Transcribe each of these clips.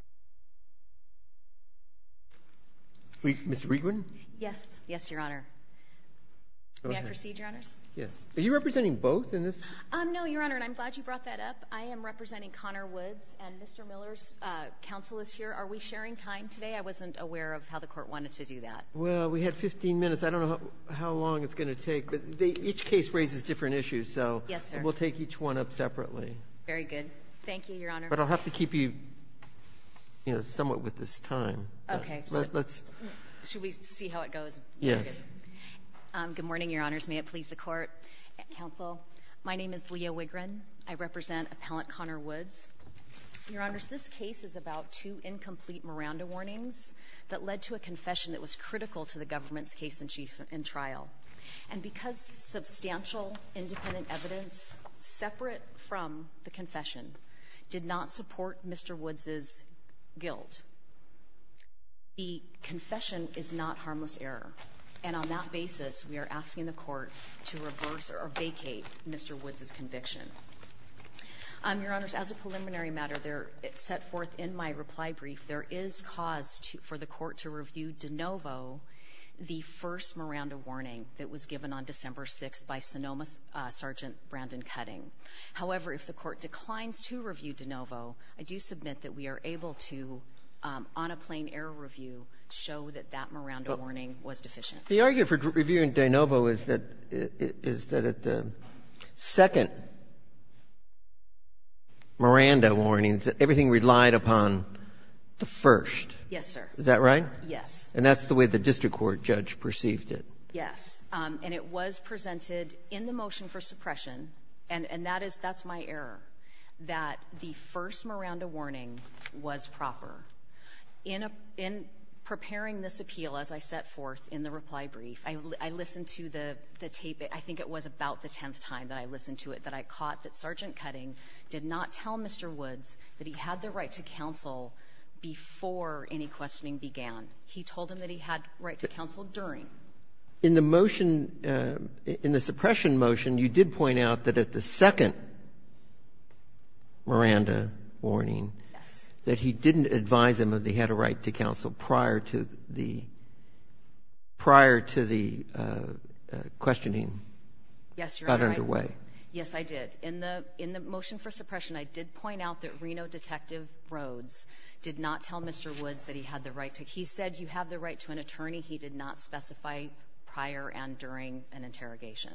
and Mr. Miller's counsel is here. Are we sharing time today? I wasn't aware of how the court wanted to do that. Well, we had 15 minutes. I don't know how long it's going to take, but each case raises different issues. So yes, we'll take each one up separately. Very good. Thank you, Your Honor. But I'll have to keep you. You know, somewhat with this time. Okay. Let's see how it goes. Yes. Good morning, Your Honors. May it please the Court. Counsel, my name is Leah Wigrin. I represent Appellant Connor Woods. Your Honors, this case is about two incomplete Miranda warnings that led to a confession that was critical to the government's case in trial. And because substantial independent evidence separate from the confession did not support Mr. Woods's guilt, the confession is not harmless error. And on that basis, we are asking the Court to reverse or vacate Mr. Woods's conviction. Your Honors, as a preliminary matter, there set forth in my reply brief, there is cause for the Court to review de novo the first Miranda warning that was given on December 6th by Sonoma Sergeant Brandon Cutting. However, if the Court declines to review de novo, I do submit that we are able to, on a plain-error review, show that that Miranda warning was deficient. The argument for reviewing de novo is that it is that at the second Miranda warning, everything relied upon the first. Yes, sir. Is that right? Yes. And that's the way the district court judge perceived it. Yes. And it was presented in the motion for suppression, and that is my error, that the first Miranda warning was proper. In preparing this appeal, as I set forth in the reply brief, I listened to the tape. I think it was about the tenth time that I listened to it, that I caught that Sergeant Cutting did not tell Mr. Woods that he had the right to counsel before any questioning began. He told him that he had right to counsel during. In the motion, in the suppression motion, you did point out that at the second Miranda warning that he didn't advise him that he had a right to counsel prior to the prior to the questioning got underway. Yes, Your Honor. Yes, I did. In the motion for suppression, I did point out that Reno Detective Rhodes did not tell Mr. Woods that he had the right to. He said you have the right to an attorney. He did not specify prior and during an interrogation.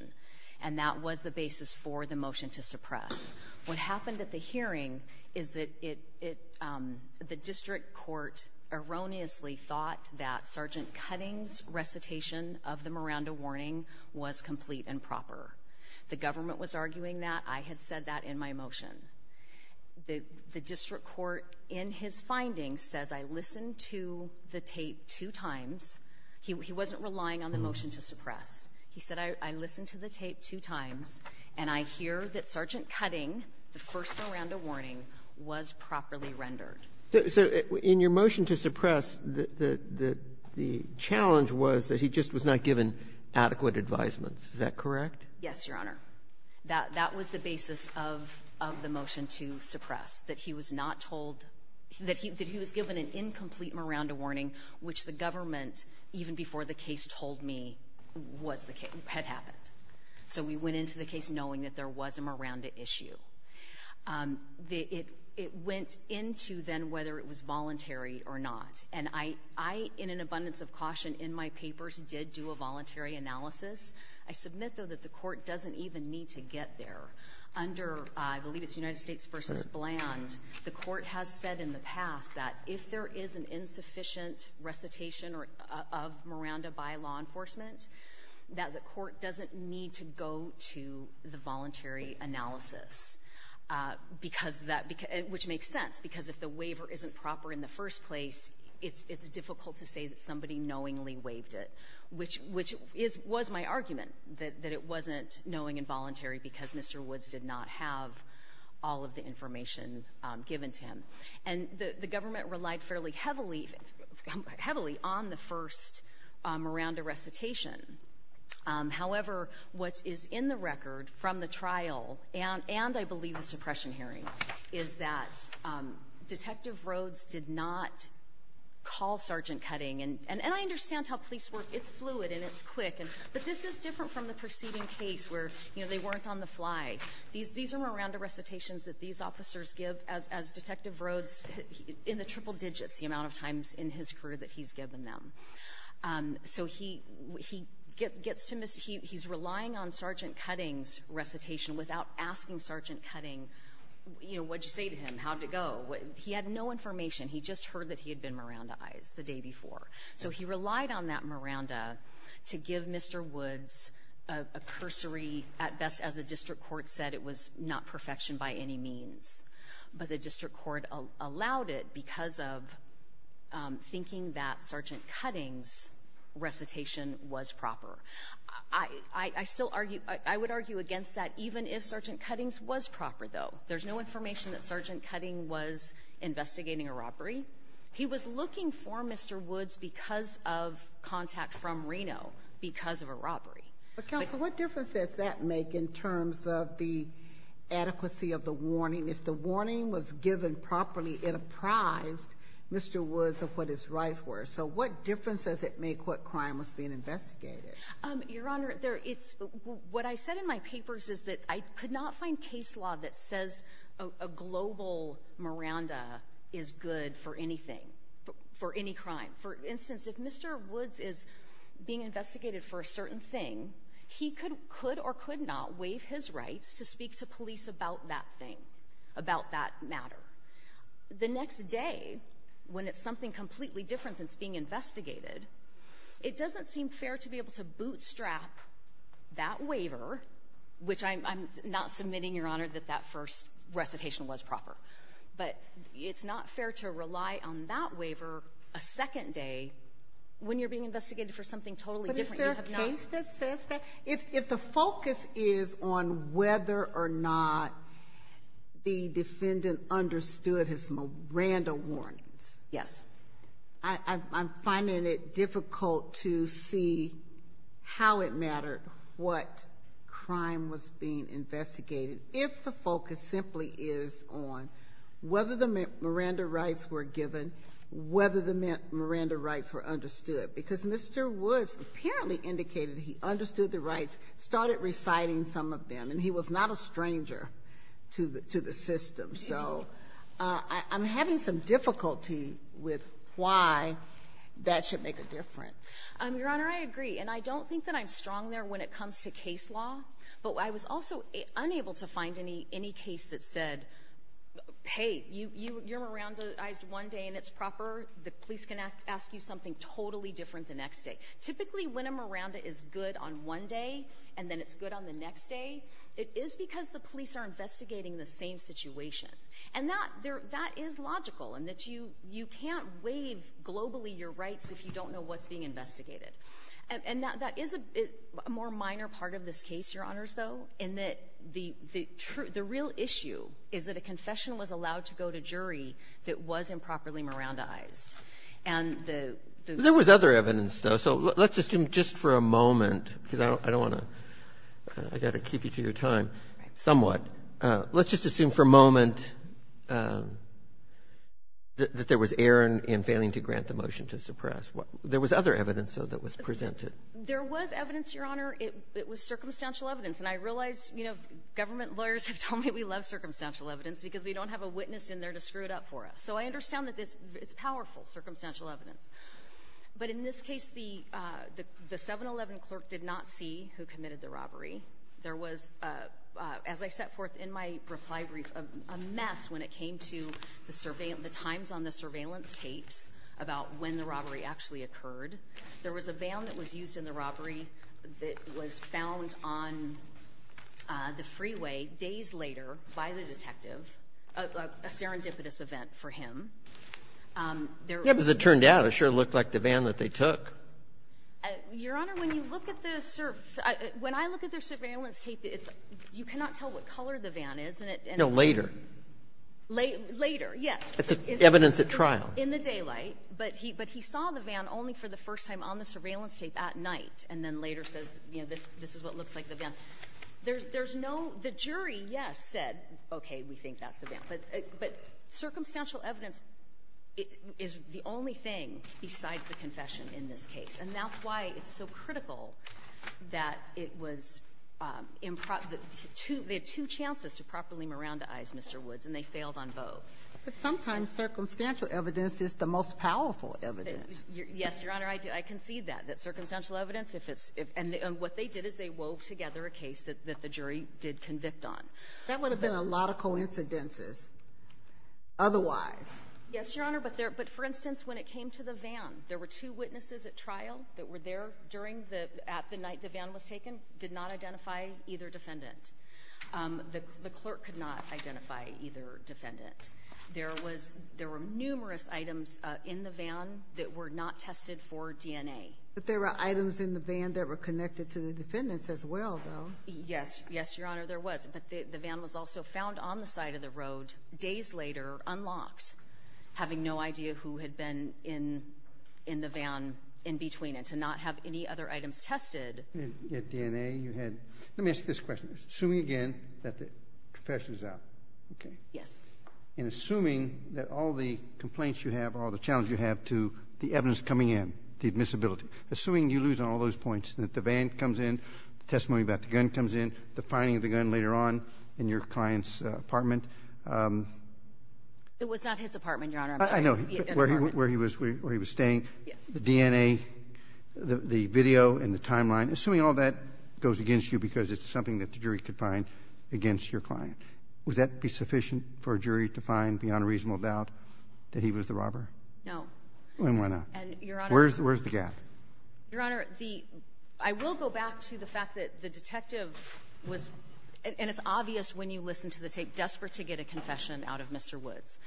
And that was the basis for the motion to suppress. What happened at the hearing is that it, the district court erroneously thought that Sergeant Cutting's recitation of the Miranda warning was complete and proper. The government was arguing that. I had said that in my motion. The district court in his findings says I listened to the tape two times. He wasn't relying on the motion to suppress. He said I listened to the tape two times, and I hear that Sergeant Cutting, the first Miranda warning, was properly rendered. So in your motion to suppress, the challenge was that he just was not given adequate advisements. Is that correct? Yes, Your Honor. That was the basis of the motion to suppress, that he was not told, that he was given an incomplete Miranda warning, which the government, even before the case told me, was the case, had happened. So we went into the case knowing that there was a Miranda issue. It went into then whether it was voluntary or not. And I, in an abundance of caution in my papers, did do a voluntary analysis. I submit, though, that the court doesn't even need to get there. Under, I believe it's United States versus Bland, the court has said in the past that if there is an insufficient recitation of Miranda by law enforcement, that the court doesn't need to go to the voluntary analysis. Because that, which makes sense, because if the waiver isn't proper in the first place, it's difficult to say that somebody knowingly waived it. Which was my argument, that it wasn't knowing and voluntary because Mr. Woods did not have all of the information given to him. And the government relied fairly heavily on the first Miranda recitation. However, what is in the record from the trial, and I believe the suppression hearing, is that Detective Rhodes did not call Sergeant Cutting. And I understand how police work, it's fluid and it's quick. But this is different from the preceding case where they weren't on the fly. These are Miranda recitations that these officers give as Detective Rhodes in the triple digits, the amount of times in his career that he's given them. So he's relying on Sergeant Cutting's recitation without asking Sergeant Cutting, what'd you say to him, how'd it go? He had no information. He just heard that he had been Miranda-ized the day before. So he relied on that Miranda to give Mr. Woods a cursory, at best, as the district court said, it was not perfection by any means. But the district court allowed it because of thinking that Sergeant Cutting's recitation was proper. I would argue against that, even if Sergeant Cutting's was proper, though. There's no information that Sergeant Cutting was investigating a robbery. He was looking for Mr. Woods because of contact from Reno, because of a robbery. But counsel, what difference does that make in terms of the adequacy of the warning? If the warning was given properly, it apprised Mr. Woods of what his rights were. So what difference does it make what crime was being investigated? Your Honor, what I said in my papers is that I could not find case law that says a global Miranda is good for anything, for any crime. For instance, if Mr. Woods is being investigated for a certain thing, he could or could not waive his rights to speak to police about that thing, about that matter. The next day, when it's something completely different than it's being investigated, it's not fair to bootstrap that waiver, which I'm not submitting, Your Honor, that that first recitation was proper. But it's not fair to rely on that waiver a second day, when you're being investigated for something totally different. You have not- But is there a case that says that? If the focus is on whether or not the defendant understood his Miranda warnings. Yes. I'm finding it difficult to see how it mattered what crime was being investigated if the focus simply is on whether the Miranda rights were given, whether the Miranda rights were understood. Because Mr. Woods apparently indicated he understood the rights, started reciting some of them. And he was not a stranger to the system. So I'm having some difficulty with why that should make a difference. Your Honor, I agree. And I don't think that I'm strong there when it comes to case law. But I was also unable to find any case that said, hey, you're Miranda-ized one day and it's proper. The police can ask you something totally different the next day. Typically, when a Miranda is good on one day and then it's good on the next day, it is because the police are investigating the same situation. And that is logical, in that you can't waive globally your rights if you don't know what's being investigated. And that is a more minor part of this case, Your Honors, though, in that the real issue is that a confession was allowed to go to jury that was improperly Miranda-ized. And the ---- There was other evidence, though. So let's assume just for a moment, because I don't want to ---- I've got a key feature of your time, somewhat. Let's just assume for a moment that there was error in failing to grant the motion to suppress. There was other evidence, though, that was presented. There was evidence, Your Honor. It was circumstantial evidence. And I realize, you know, government lawyers have told me we love circumstantial evidence because we don't have a witness in there to screw it up for us. So I understand that it's powerful, circumstantial evidence. But in this case, the 711 clerk did not see who committed the robbery. There was, as I set forth in my reply brief, a mess when it came to the surveillance ---- the times on the surveillance tapes about when the robbery actually occurred. There was a van that was used in the robbery that was found on the freeway days later by the detective, a serendipitous event for him. There was a ---- Yeah, because it turned out it sure looked like the van that they took. Your Honor, when you look at the ---- when I look at their surveillance tape, it's ---- you cannot tell what color the van is. And it ---- No, later. Later, yes. Evidence at trial. In the daylight. But he saw the van only for the first time on the surveillance tape at night, and then later says, you know, this is what looks like the van. There's no ---- the jury, yes, said, okay, we think that's the van. But circumstantial evidence is the only thing besides the confession in this case. And that's why it's so critical that it was improper to ---- there are two chances to properly Mirandaize Mr. Woods, and they failed on both. But sometimes circumstantial evidence is the most powerful evidence. Yes, Your Honor, I concede that, that circumstantial evidence, if it's ---- and what they did is they wove together a case that the jury did convict on. That would have been a lot of coincidences otherwise. Yes, Your Honor, but there ---- but for instance, when it came to the van, there were two witnesses at trial that were there during the ---- at the night the van was taken, did not identify either defendant. The clerk could not identify either defendant. There was ---- there were numerous items in the van that were not tested for DNA. But there were items in the van that were connected to the defendants as well, though. Yes, yes, Your Honor, there was. But the van was also found on the side of the road days later unlocked, having no idea who had been in the van in between it, to not have any other items tested. At DNA, you had ---- let me ask you this question. Assuming again that the confession is out, okay? Yes. And assuming that all the complaints you have, all the challenge you have to the evidence coming in, the admissibility, assuming you lose on all those points, that the van comes in, the testimony about the gun comes in, the finding of the gun later on in your client's apartment. It was not his apartment, Your Honor. I know, where he was staying, the DNA, the video, and the timeline, assuming all that goes against you because it's something that the jury could find against your client. Would that be sufficient for a jury to find beyond a reasonable doubt that he was the robber? No. Then why not? And, Your Honor ---- Where's the gap? Your Honor, the ---- I will go back to the fact that the detective was ---- and it's obvious when you listen to the tape, desperate to get a confession out of Mr. Woods.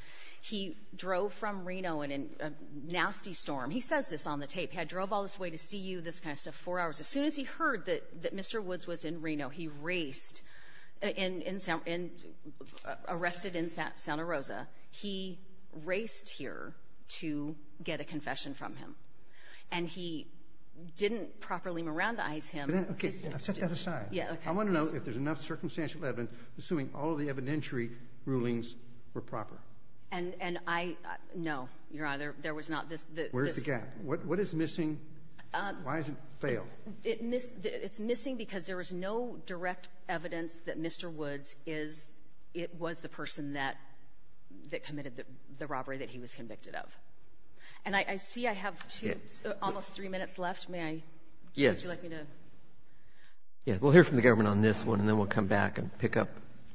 He drove from Reno in a nasty storm. He says this on the tape. He had drove all this way to see you, this kind of stuff, four hours. As soon as he heard that Mr. Woods was in Reno, he raced in ---- arrested in Santa Rosa, he raced here to get a confession from him. And he didn't properly mirandize him. But then, okay, I've set that aside. Yeah, okay. I want to know if there's enough circumstantial evidence, assuming all of the evidentiary rulings were proper. And I ---- no, Your Honor, there was not this ---- Where's the gap? What is missing? Why has it failed? It's missing because there was no direct evidence that Mr. Woods is ---- it was the person that committed the robbery that he was convicted of. And I see I have two, almost three minutes left. May I ---- Yes. Would you like me to ---- Yeah, we'll hear from the government on this one, and then we'll come back and pick up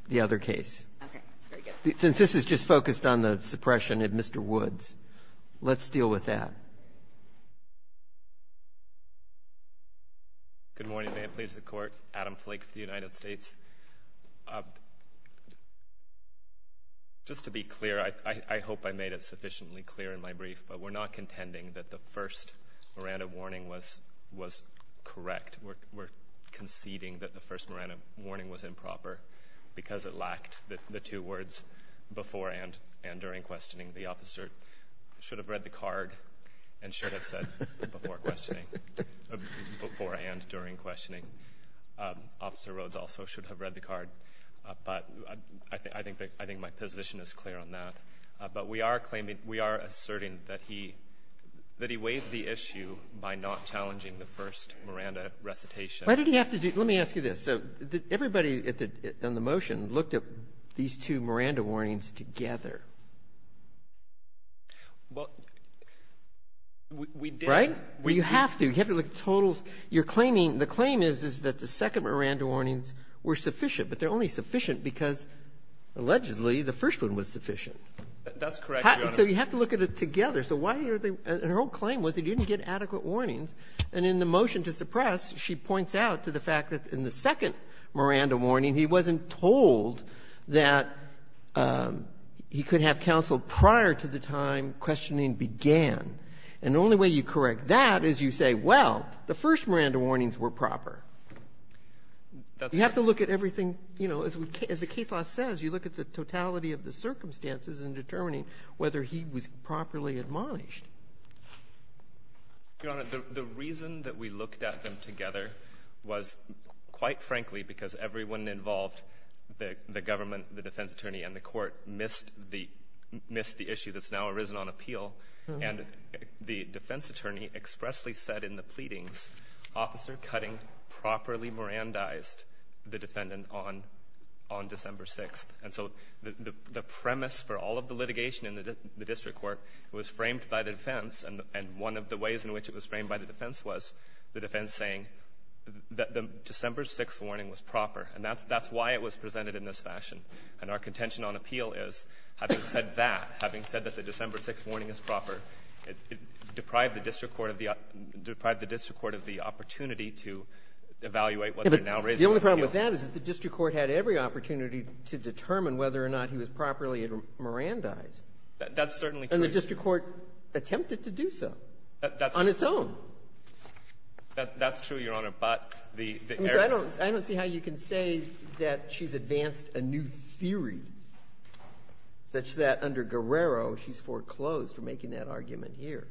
the other case. Okay. Very good. Since this is just focused on the suppression of Mr. Woods, let's deal with that. Good morning, and may it please the Court, Adam Flake for the United States. Just to be clear, I hope I made it sufficiently clear in my brief, but we're not contending that the first Miranda warning was correct. We're conceding that the first Miranda warning was improper because it lacked the two words before and during questioning. The officer should have read the card and should have said before questioning, beforehand during questioning. Officer Rhodes also should have read the card. But I think my position is clear on that. But we are claiming ---- we are asserting that he waived the issue by not challenging the first Miranda recitation. Why did he have to do ---- let me ask you this. So did everybody on the motion look at these two Miranda warnings together? Well, we did. Right? You have to. You have to look at totals. You're claiming the claim is, is that the second Miranda warnings were sufficient. But they're only sufficient because, allegedly, the first one was sufficient. That's correct, Your Honor. So you have to look at it together. So why are they ---- and her whole claim was they didn't get adequate warnings. And in the motion to suppress, she points out to the fact that in the second Miranda warning, he wasn't told that he could have counseled prior to the time questioning began. And the only way you correct that is you say, well, the first Miranda warnings were proper. That's ---- You have to look at everything, you know, as we ---- as the case law says, you look at the totality of the circumstances in determining whether he was properly admonished. Your Honor, the reason that we looked at them together was, quite frankly, because everyone involved, the government, the defense attorney, and the court, missed the issue that's now arisen on appeal. And the defense attorney expressly said in the pleadings, Officer Cutting properly Mirandized the defendant on December 6th. And so the premise for all of the litigation in the district court was framed by the defense. And one of the ways in which it was framed by the defense was the defense saying that the December 6th warning was proper. And that's why it was presented in this fashion. And our contention on appeal is, having said that, having said that the December 6th warning is proper, it deprived the district court of the opportunity to evaluate what they're now raising on appeal. The only problem with that is that the district court had every opportunity to determine whether or not he was properly Mirandized. That's certainly true. And the district court attempted to do so on its own. That's true, Your Honor. But the area ---- I don't see how you can say that she's advanced a new theory such that under Guerrero she's foreclosed for making that argument here.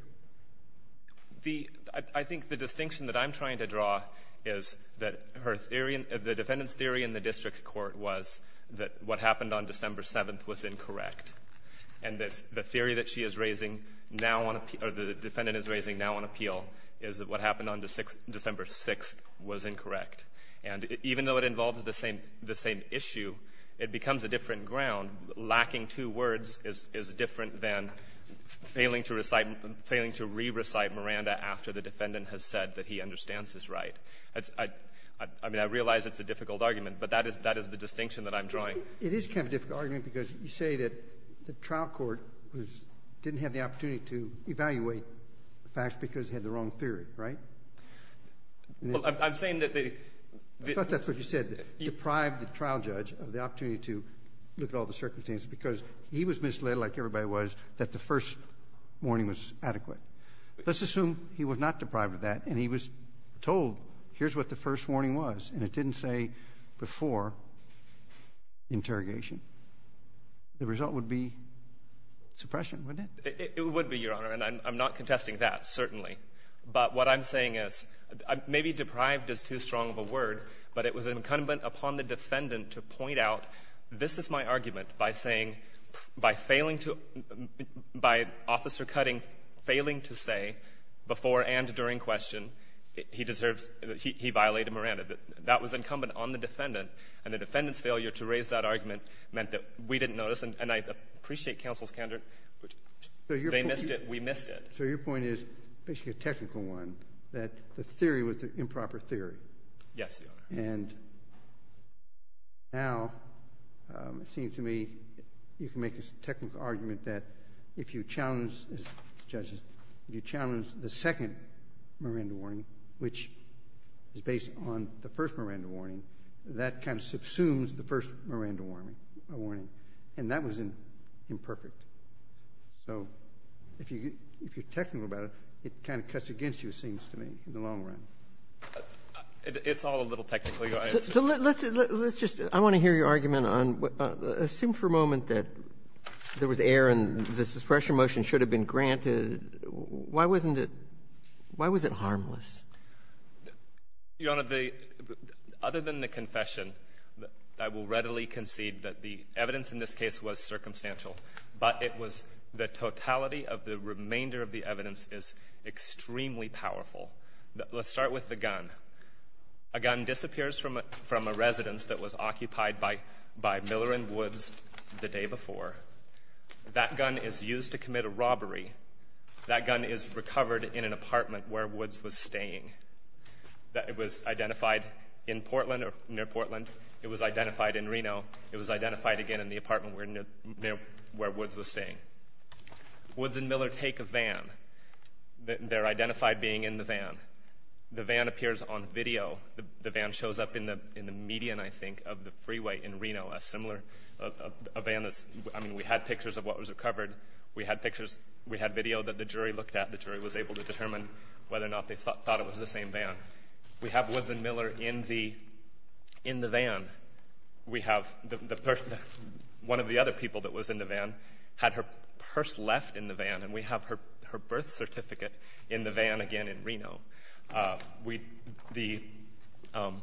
The ---- I think the distinction that I'm trying to draw is that her theory ---- the defendant's theory in the district court was that what happened on December 7th was incorrect. And the theory that she is raising now on ---- or the defendant is raising now on appeal is that what happened on December 6th was incorrect. And even though it involves the same issue, it becomes a different ground. Lacking two words is different than failing to recite Miranda after the defendant has said that he understands his right. I mean, I realize it's a difficult argument, but that is the distinction that I'm drawing. It is kind of a difficult argument because you say that the trial court didn't have the opportunity to evaluate the facts because it had the wrong theory, right? Well, I'm saying that the ---- I thought that's what you said, deprived the trial judge of the opportunity to look at all the circumstances because he was misled, like everybody was, that the first warning was adequate. Let's assume he was not deprived of that and he was told, here's what the first warning was, and it didn't say before interrogation. The result would be suppression, wouldn't it? It would be, Your Honor. And I'm not contesting that, certainly. But what I'm saying is maybe deprived is too strong of a word, but it was incumbent upon the defendant to point out, this is my argument, by saying, by failing to ---- by Officer Cutting failing to say before and during question, he deserves ---- he violated Miranda. That was incumbent on the defendant, and the defendant's failure to raise that argument meant that we didn't notice, and I appreciate counsel's candor. They missed it. We missed it. So your point is, basically a technical one, that the theory was an improper theory. Yes, Your Honor. And now, it seems to me, you can make a technical argument that if you challenge, as judges, if you challenge the second Miranda warning, which is based on the first Miranda warning, that kind of subsumes the first Miranda warning, and that was imperfect. So if you're technical about it, it kind of cuts against you, it seems to me, in the long run. It's all a little technical, Your Honor. So let's just ---- I want to hear your argument on ---- assume for a moment that there was error and this suppression motion should have been granted. Why wasn't it ---- why was it harmless? Your Honor, the ---- other than the confession, I will readily concede that the evidence in this case was circumstantial, but it was the totality of the remainder of the evidence is extremely powerful. Let's start with the gun. A gun disappears from a residence that was occupied by Miller and Woods the day before. That gun is used to commit a robbery. That gun is recovered in an apartment where Woods was staying. It was identified in Portland or near Portland. It was identified in Reno. It was identified again in the apartment where Woods was staying. Woods and Miller take a van. They're identified being in the van. The van appears on video. The van shows up in the median, I think, of the freeway in Reno, a similar ---- a van that's ---- I mean, we had pictures of what was recovered. We had pictures. We had video that the jury looked at. The jury was able to determine whether or not they thought it was the same van. We have Woods and Miller in the van. We have the person ---- one of the other people that was in the van had her purse left in the van, and we have her birth certificate in the van again in Reno. We ---- the ----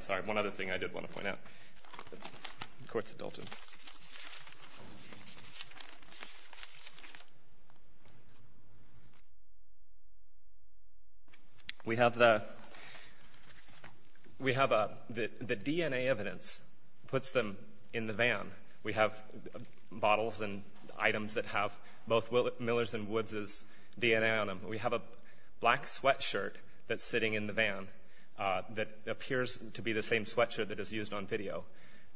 sorry, one other thing I did want to point out. Courts of Dulgence. We have the DNA evidence puts them in the van. We have bottles and items that have both Millers and Woods' DNA on them. We have a black sweatshirt that's sitting in the van that appears to be the same sweatshirt that is used on video.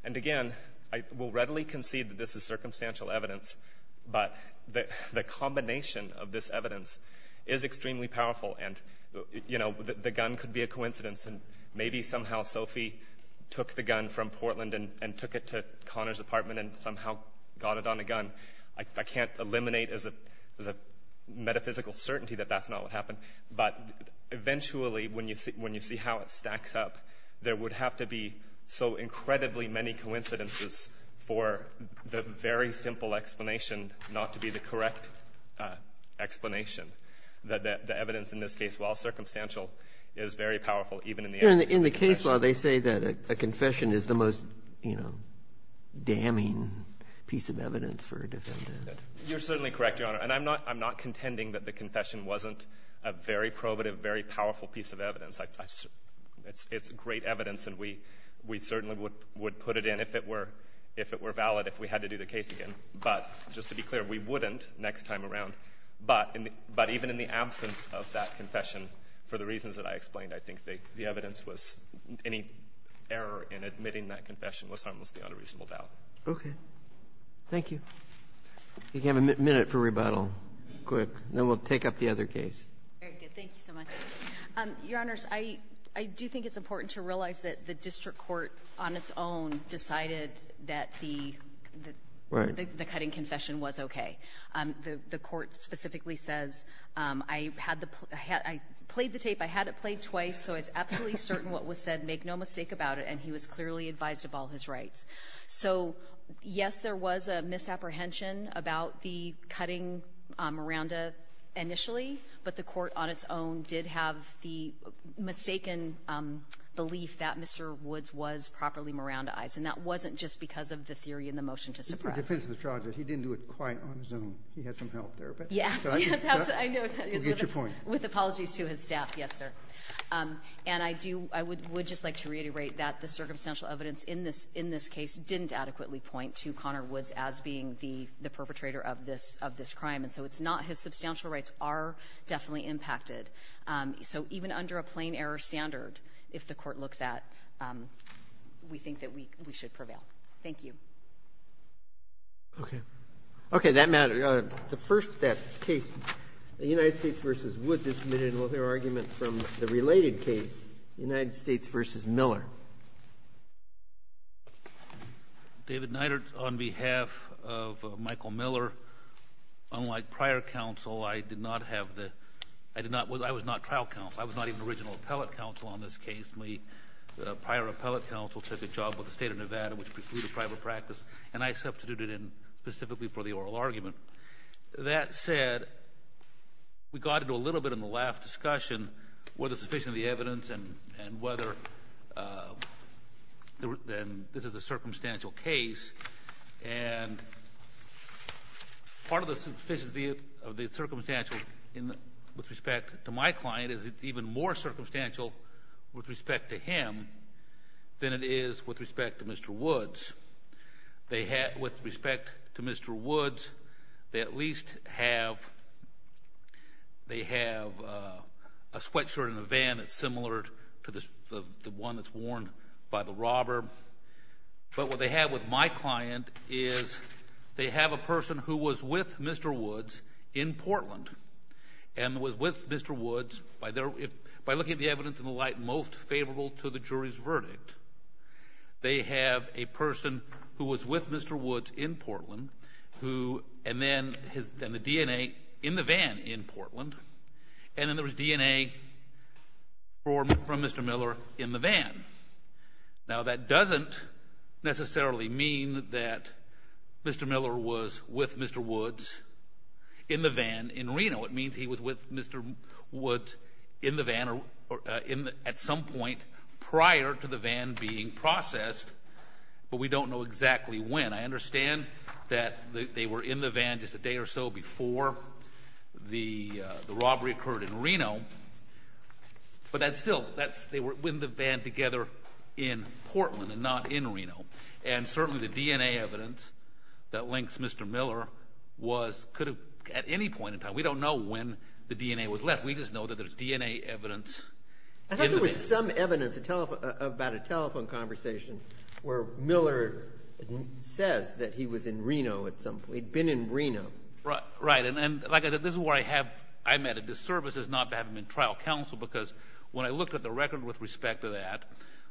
And again, I will readily concede that this is circumstantial evidence, but the combination of this evidence is extremely powerful, and, you know, the gun could be a coincidence, and maybe somehow Sophie took the gun from Portland and took it to Connor's apartment and somehow got it on a gun. I can't eliminate as a metaphysical certainty that that's not what happened, but eventually when you see how it stacks up, there would have to be so incredibly many coincidences for the very simple explanation not to be the correct explanation. The evidence in this case, while circumstantial, is very powerful even in the absence of a confession. In the case law, they say that a confession is the most, you know, damning piece of evidence for a defendant. You're certainly correct, Your Honor. And I'm not contending that the confession wasn't a very probative, very powerful piece of evidence. It's great evidence, and we certainly would put it in if it were valid if we had to do the case again. But just to be clear, we wouldn't next time around. But even in the absence of that confession, for the reasons that I explained, I think the evidence was any error in admitting that confession was harmless beyond a reasonable doubt. Okay. Thank you. We have a minute for rebuttal. Quick. Then we'll take up the other case. Very good. Thank you so much. Your Honors, I do think it's important to realize that the district court on its own decided that the cutting confession was okay. The court specifically says, I had the play the tape. I had it played twice, so I was absolutely certain what was said. Make no mistake about it. And he was clearly advised of all his rights. So, yes, there was a misapprehension about the cutting Miranda initially, but the court on its own did have the mistaken belief that Mr. Woods was properly Miranda eyes, and that wasn't just because of the theory in the motion to suppress. It depends on the charges. He didn't do it quite on his own. He had some help there. Yes. I know. You get your point. With apologies to his staff. Yes, sir. And I do – I would just like to reiterate that the circumstantial evidence in this case didn't adequately point to Connor Woods as being the perpetrator of this crime. And so it's not – his substantial rights are definitely impacted. So even under a plain error standard, if the court looks at, we think that we should prevail. Thank you. Okay. Okay. That matter. The first case, the United States v. Woods is submitted with their argument from the related case, United States v. Miller. David Neidert on behalf of Michael Miller. Remember, unlike prior counsel, I did not have the – I did not – I was not trial counsel. I was not even original appellate counsel on this case. My prior appellate counsel took a job with the state of Nevada, which precluded private practice. And I substituted in specifically for the oral argument. That said, we got into a little bit in the last discussion whether sufficient of the evidence and whether then this is a circumstantial case. And part of the sufficiency of the circumstantial with respect to my client is it's even more circumstantial with respect to him than it is with respect to Mr. Woods. They had – with respect to Mr. Woods, they at least have – they have a sweatshirt in a van that's similar to the one that's worn by the robber. But what they have with my client is they have a person who was with Mr. Woods in Portland and was with Mr. Woods by looking at the evidence in the light most favorable to the jury's verdict. They have a person who was with Mr. Woods in Portland who – and then the DNA in the van in Portland. And then there was DNA from Mr. Miller in the van. Now, that doesn't necessarily mean that Mr. Miller was with Mr. Woods in the van in Reno. It means he was with Mr. Woods in the van or in – at some point prior to the van being processed, but we don't know exactly when. I understand that they were in the van just a day or so before the robbery occurred in Portland and not in Reno. And certainly the DNA evidence that links Mr. Miller was – could have – at any point in time. We don't know when the DNA was left. We just know that there's DNA evidence in the van. I thought there was some evidence about a telephone conversation where Miller says that he was in Reno at some – he'd been in Reno. Right. And this is where I have – I'm at a disservice as not to have him in trial counsel because when I look at the record with respect to that,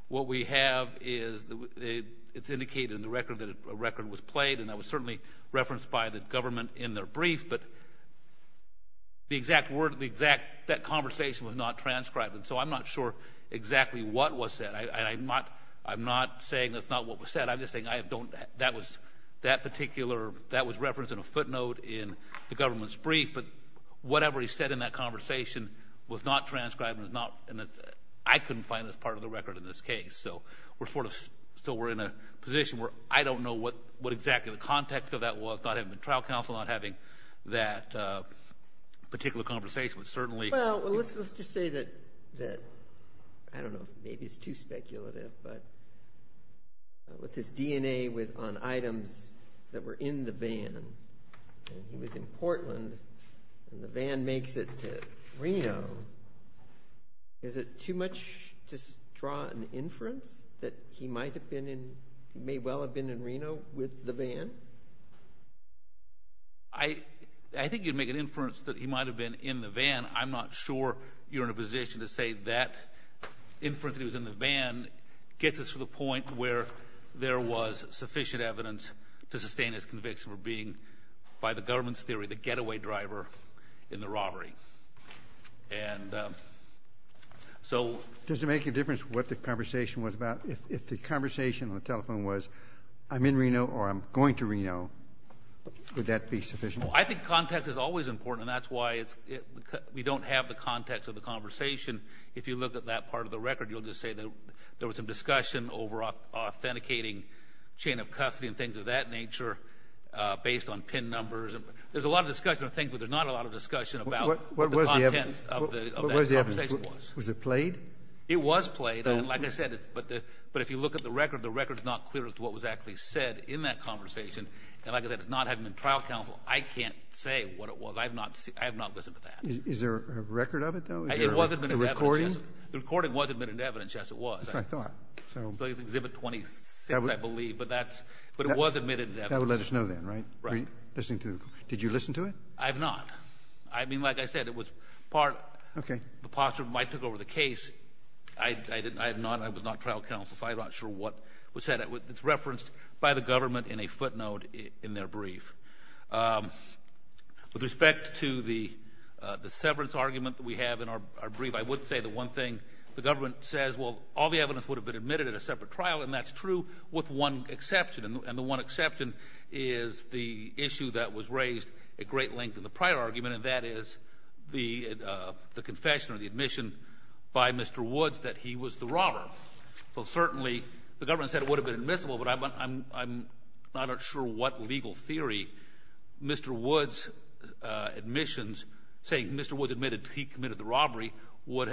what we have is – it's indicated in the record that a record was played and that was certainly referenced by the government in their brief, but the exact word – the exact – that conversation was not transcribed. And so I'm not sure exactly what was said. I'm not – I'm not saying that's not what was said. I'm just saying I don't – that was that particular – that was referenced in a footnote in the government's brief, but whatever he said in that conversation was not transcribed and is not – I couldn't find this part of the record in this case. So we're sort of – so we're in a position where I don't know what exactly the context of that was, not having been trial counsel, not having that particular conversation, but certainly – Well, let's just say that – I don't know if maybe it's too speculative, but with his DNA on items that were in the van, and he was in Portland, and the van makes it to Reno, is it too much to draw an inference that he might have been in – he may well have been in Reno with the van? I think you'd make an inference that he might have been in the van. I'm not sure you're in a position to say that inference that he was in the van gets us to the point where there was sufficient evidence to sustain his conviction for being by the government's theory the getaway driver in the robbery. And so – Does it make a difference what the conversation was about? If the conversation on the telephone was, I'm in Reno or I'm going to Reno, would that be sufficient? Well, I think context is always important, and that's why it's – we don't have the context of the conversation. If you look at that part of the record, you'll just say that there was some discussion over authenticating chain of custody and things of that nature based on PIN numbers. There's a lot of discussion of things, but there's not a lot of discussion about what the contents of that conversation was. What was the evidence? Was it played? It was played, and like I said, but if you look at the record, the record's not clear as to what was actually said in that conversation. And like I said, it's not having been trial counsel. I can't say what it was. I have not listened to that. Is there a record of it, though? Is there a recording? The recording wasn't evidence, yes, it was. That's what I thought. So it's Exhibit 26, I believe, but that's – but it was admitted as evidence. That would let us know then, right? Right. Listening to – did you listen to it? I have not. I mean, like I said, it was part – Okay. The posture of when I took over the case, I have not – I was not trial counsel, so I'm not sure what was said. It's referenced by the government in a footnote in their brief. With respect to the severance argument that we have in our brief, I would say the one thing the government says, well, all the evidence would have been admitted at a separate trial, and that's true with one exception. And the one exception is the issue that was raised at great length in the prior argument, and that is the confession or the admission by Mr. Woods that he was the robber. So certainly the government said it would have been admissible, but I'm not sure what legal theory Mr. Woods' admissions – saying Mr. Woods admitted he committed the robbery would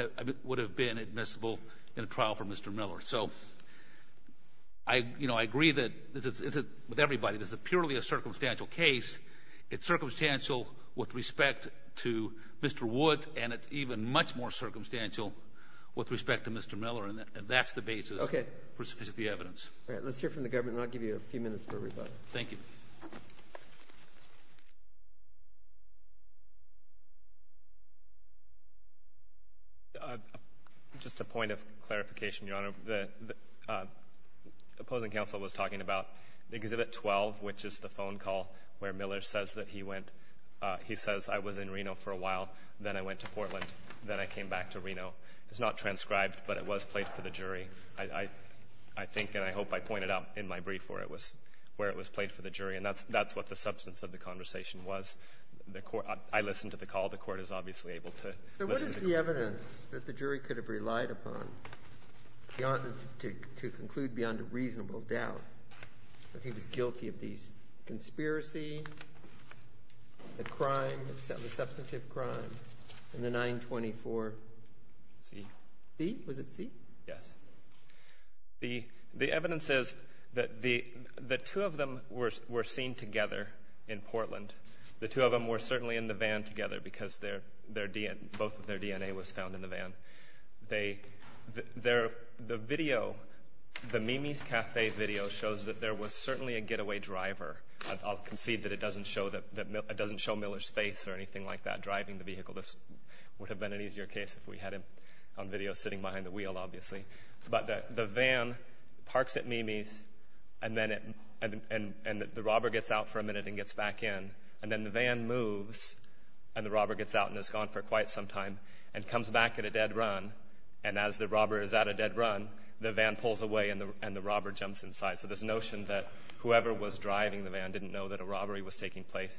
have been admissible in a trial for Mr. Miller. So I agree that – with everybody, this is purely a circumstantial case. It's circumstantial with respect to Mr. Woods, and it's even much more circumstantial with respect to Mr. Miller, and that's the basis for sufficient evidence. Okay. All right. Let's hear from the government, and I'll give you a few minutes for rebuttal. Thank you. Just a point of clarification, Your Honor. The opposing counsel was talking about Exhibit 12, which is the phone call where Miller says that he went. He says, I was in Reno for a while, then I went to Portland, then I came back to Reno. It's not transcribed, but it was played for the jury. I think and I hope I pointed out in my brief where it was played for the jury, and that's what the substance of the conversation was. The Court is obviously able to listen to the call. So what is the evidence that the jury could have relied upon to conclude beyond a reasonable doubt that he was guilty of these conspiracy, the crime, the substantive crime in the 924-C? Was it C? Yes. The evidence is that the two of them were seen together in Portland. The two of them were certainly in the van together because both of their DNA was found in the van. The Mimi's Cafe video shows that there was certainly a getaway driver. I'll concede that it doesn't show Miller's face or anything like that driving the vehicle. This would have been an easier case if we had it on video sitting behind the wheel, obviously. But the van parks at Mimi's, and the robber gets out for a minute and gets back in. And then the van moves, and the robber gets out and is gone for quite some time and comes back at a dead run. And as the robber is at a dead run, the van pulls away and the robber jumps inside. So this notion that whoever was driving the van didn't know that a robbery was taking place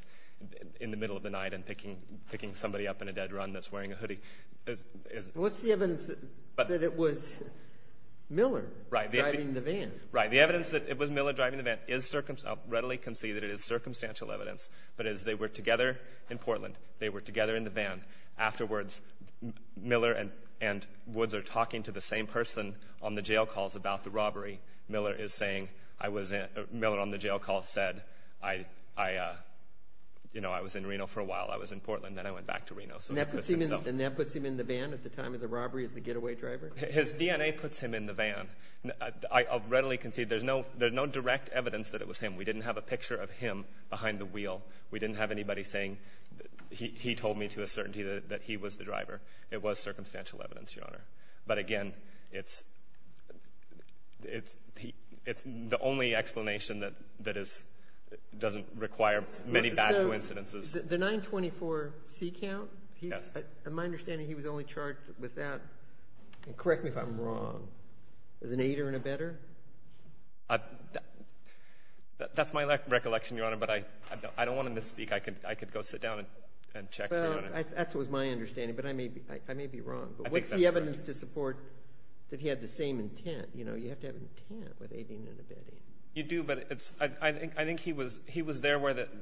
in the middle of the night and picking somebody up in a dead run that's wearing a hoodie. What's the evidence that it was Miller driving the van? Right. The evidence that it was Miller driving the van is readily conceded. It is circumstantial evidence. But as they were together in Portland, they were together in the van. Afterwards, Miller and Woods are talking to the same person on the jail calls about the robbery. Miller on the jail call said, I was in Reno for a while. I was in Portland. Then I went back to Reno. And that puts him in the van at the time of the robbery as the getaway driver? His DNA puts him in the van. I readily concede there's no direct evidence that it was him. We didn't have a picture of him behind the wheel. We didn't have anybody saying he told me to a certainty that he was the driver. It was circumstantial evidence, Your Honor. But again, it's the only explanation that doesn't require many bad coincidences. The 924C count? Yes. In my understanding, he was only charged with that. Correct me if I'm wrong. As an aider and abetter? That's my recollection, Your Honor. But I don't want to misspeak. I could go sit down and check, Your Honor. Well, that was my understanding. But I may be wrong. But what's the evidence to support that he had the same intent? You know, you have to have intent with aiding and abetting. You do. But I think he was there where the –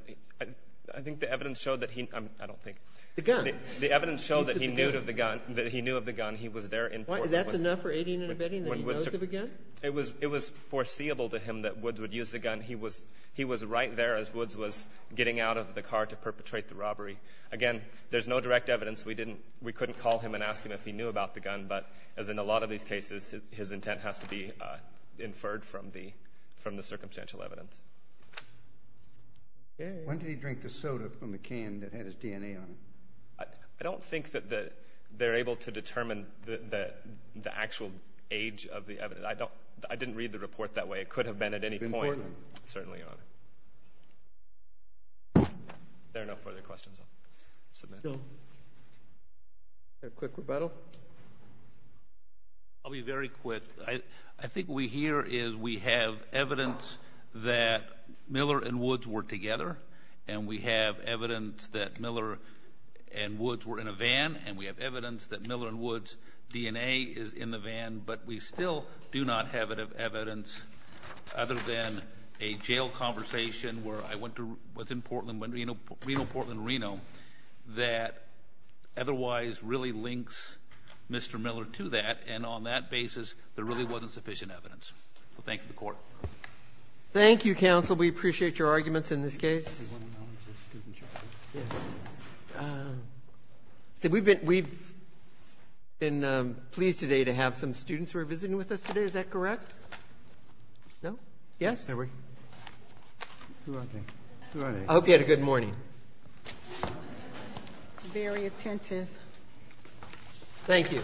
I think the evidence showed that he – I don't think. The gun. The evidence showed that he knew of the gun. That he knew of the gun. He was there in Portland. That's enough for aiding and abetting that he knows of a gun? It was foreseeable to him that Woods would use the gun. He was right there as Woods was getting out of the car to perpetrate the robbery. Again, there's no direct evidence. We couldn't call him and ask him if he knew about the gun. But as in a lot of these cases, his intent has to be inferred from the circumstantial evidence. When did he drink the soda from the can that had his DNA on it? I don't think that they're able to determine the actual age of the evidence. I didn't read the report that way. It could have been at any point. In Portland? Certainly, Your Honor. If there are no further questions, I'll submit. A quick rebuttal? I'll be very quick. I think what we hear is we have evidence that Miller and Woods were together. And we have evidence that Miller and Woods were in a van. And we have evidence that Miller and Woods' DNA is in the van. But we still do not have evidence other than a jail conversation where I went to what's in Portland, Reno, Portland, Reno, that otherwise really links Mr. Miller to that. And on that basis, there really wasn't sufficient evidence. So thank you, the Court. Thank you, counsel. We appreciate your arguments in this case. Yes. We've been pleased today to have some students who are visiting with us today. Is that correct? No? Yes? Who are they? I hope you had a good morning. Very attentive. Thank you.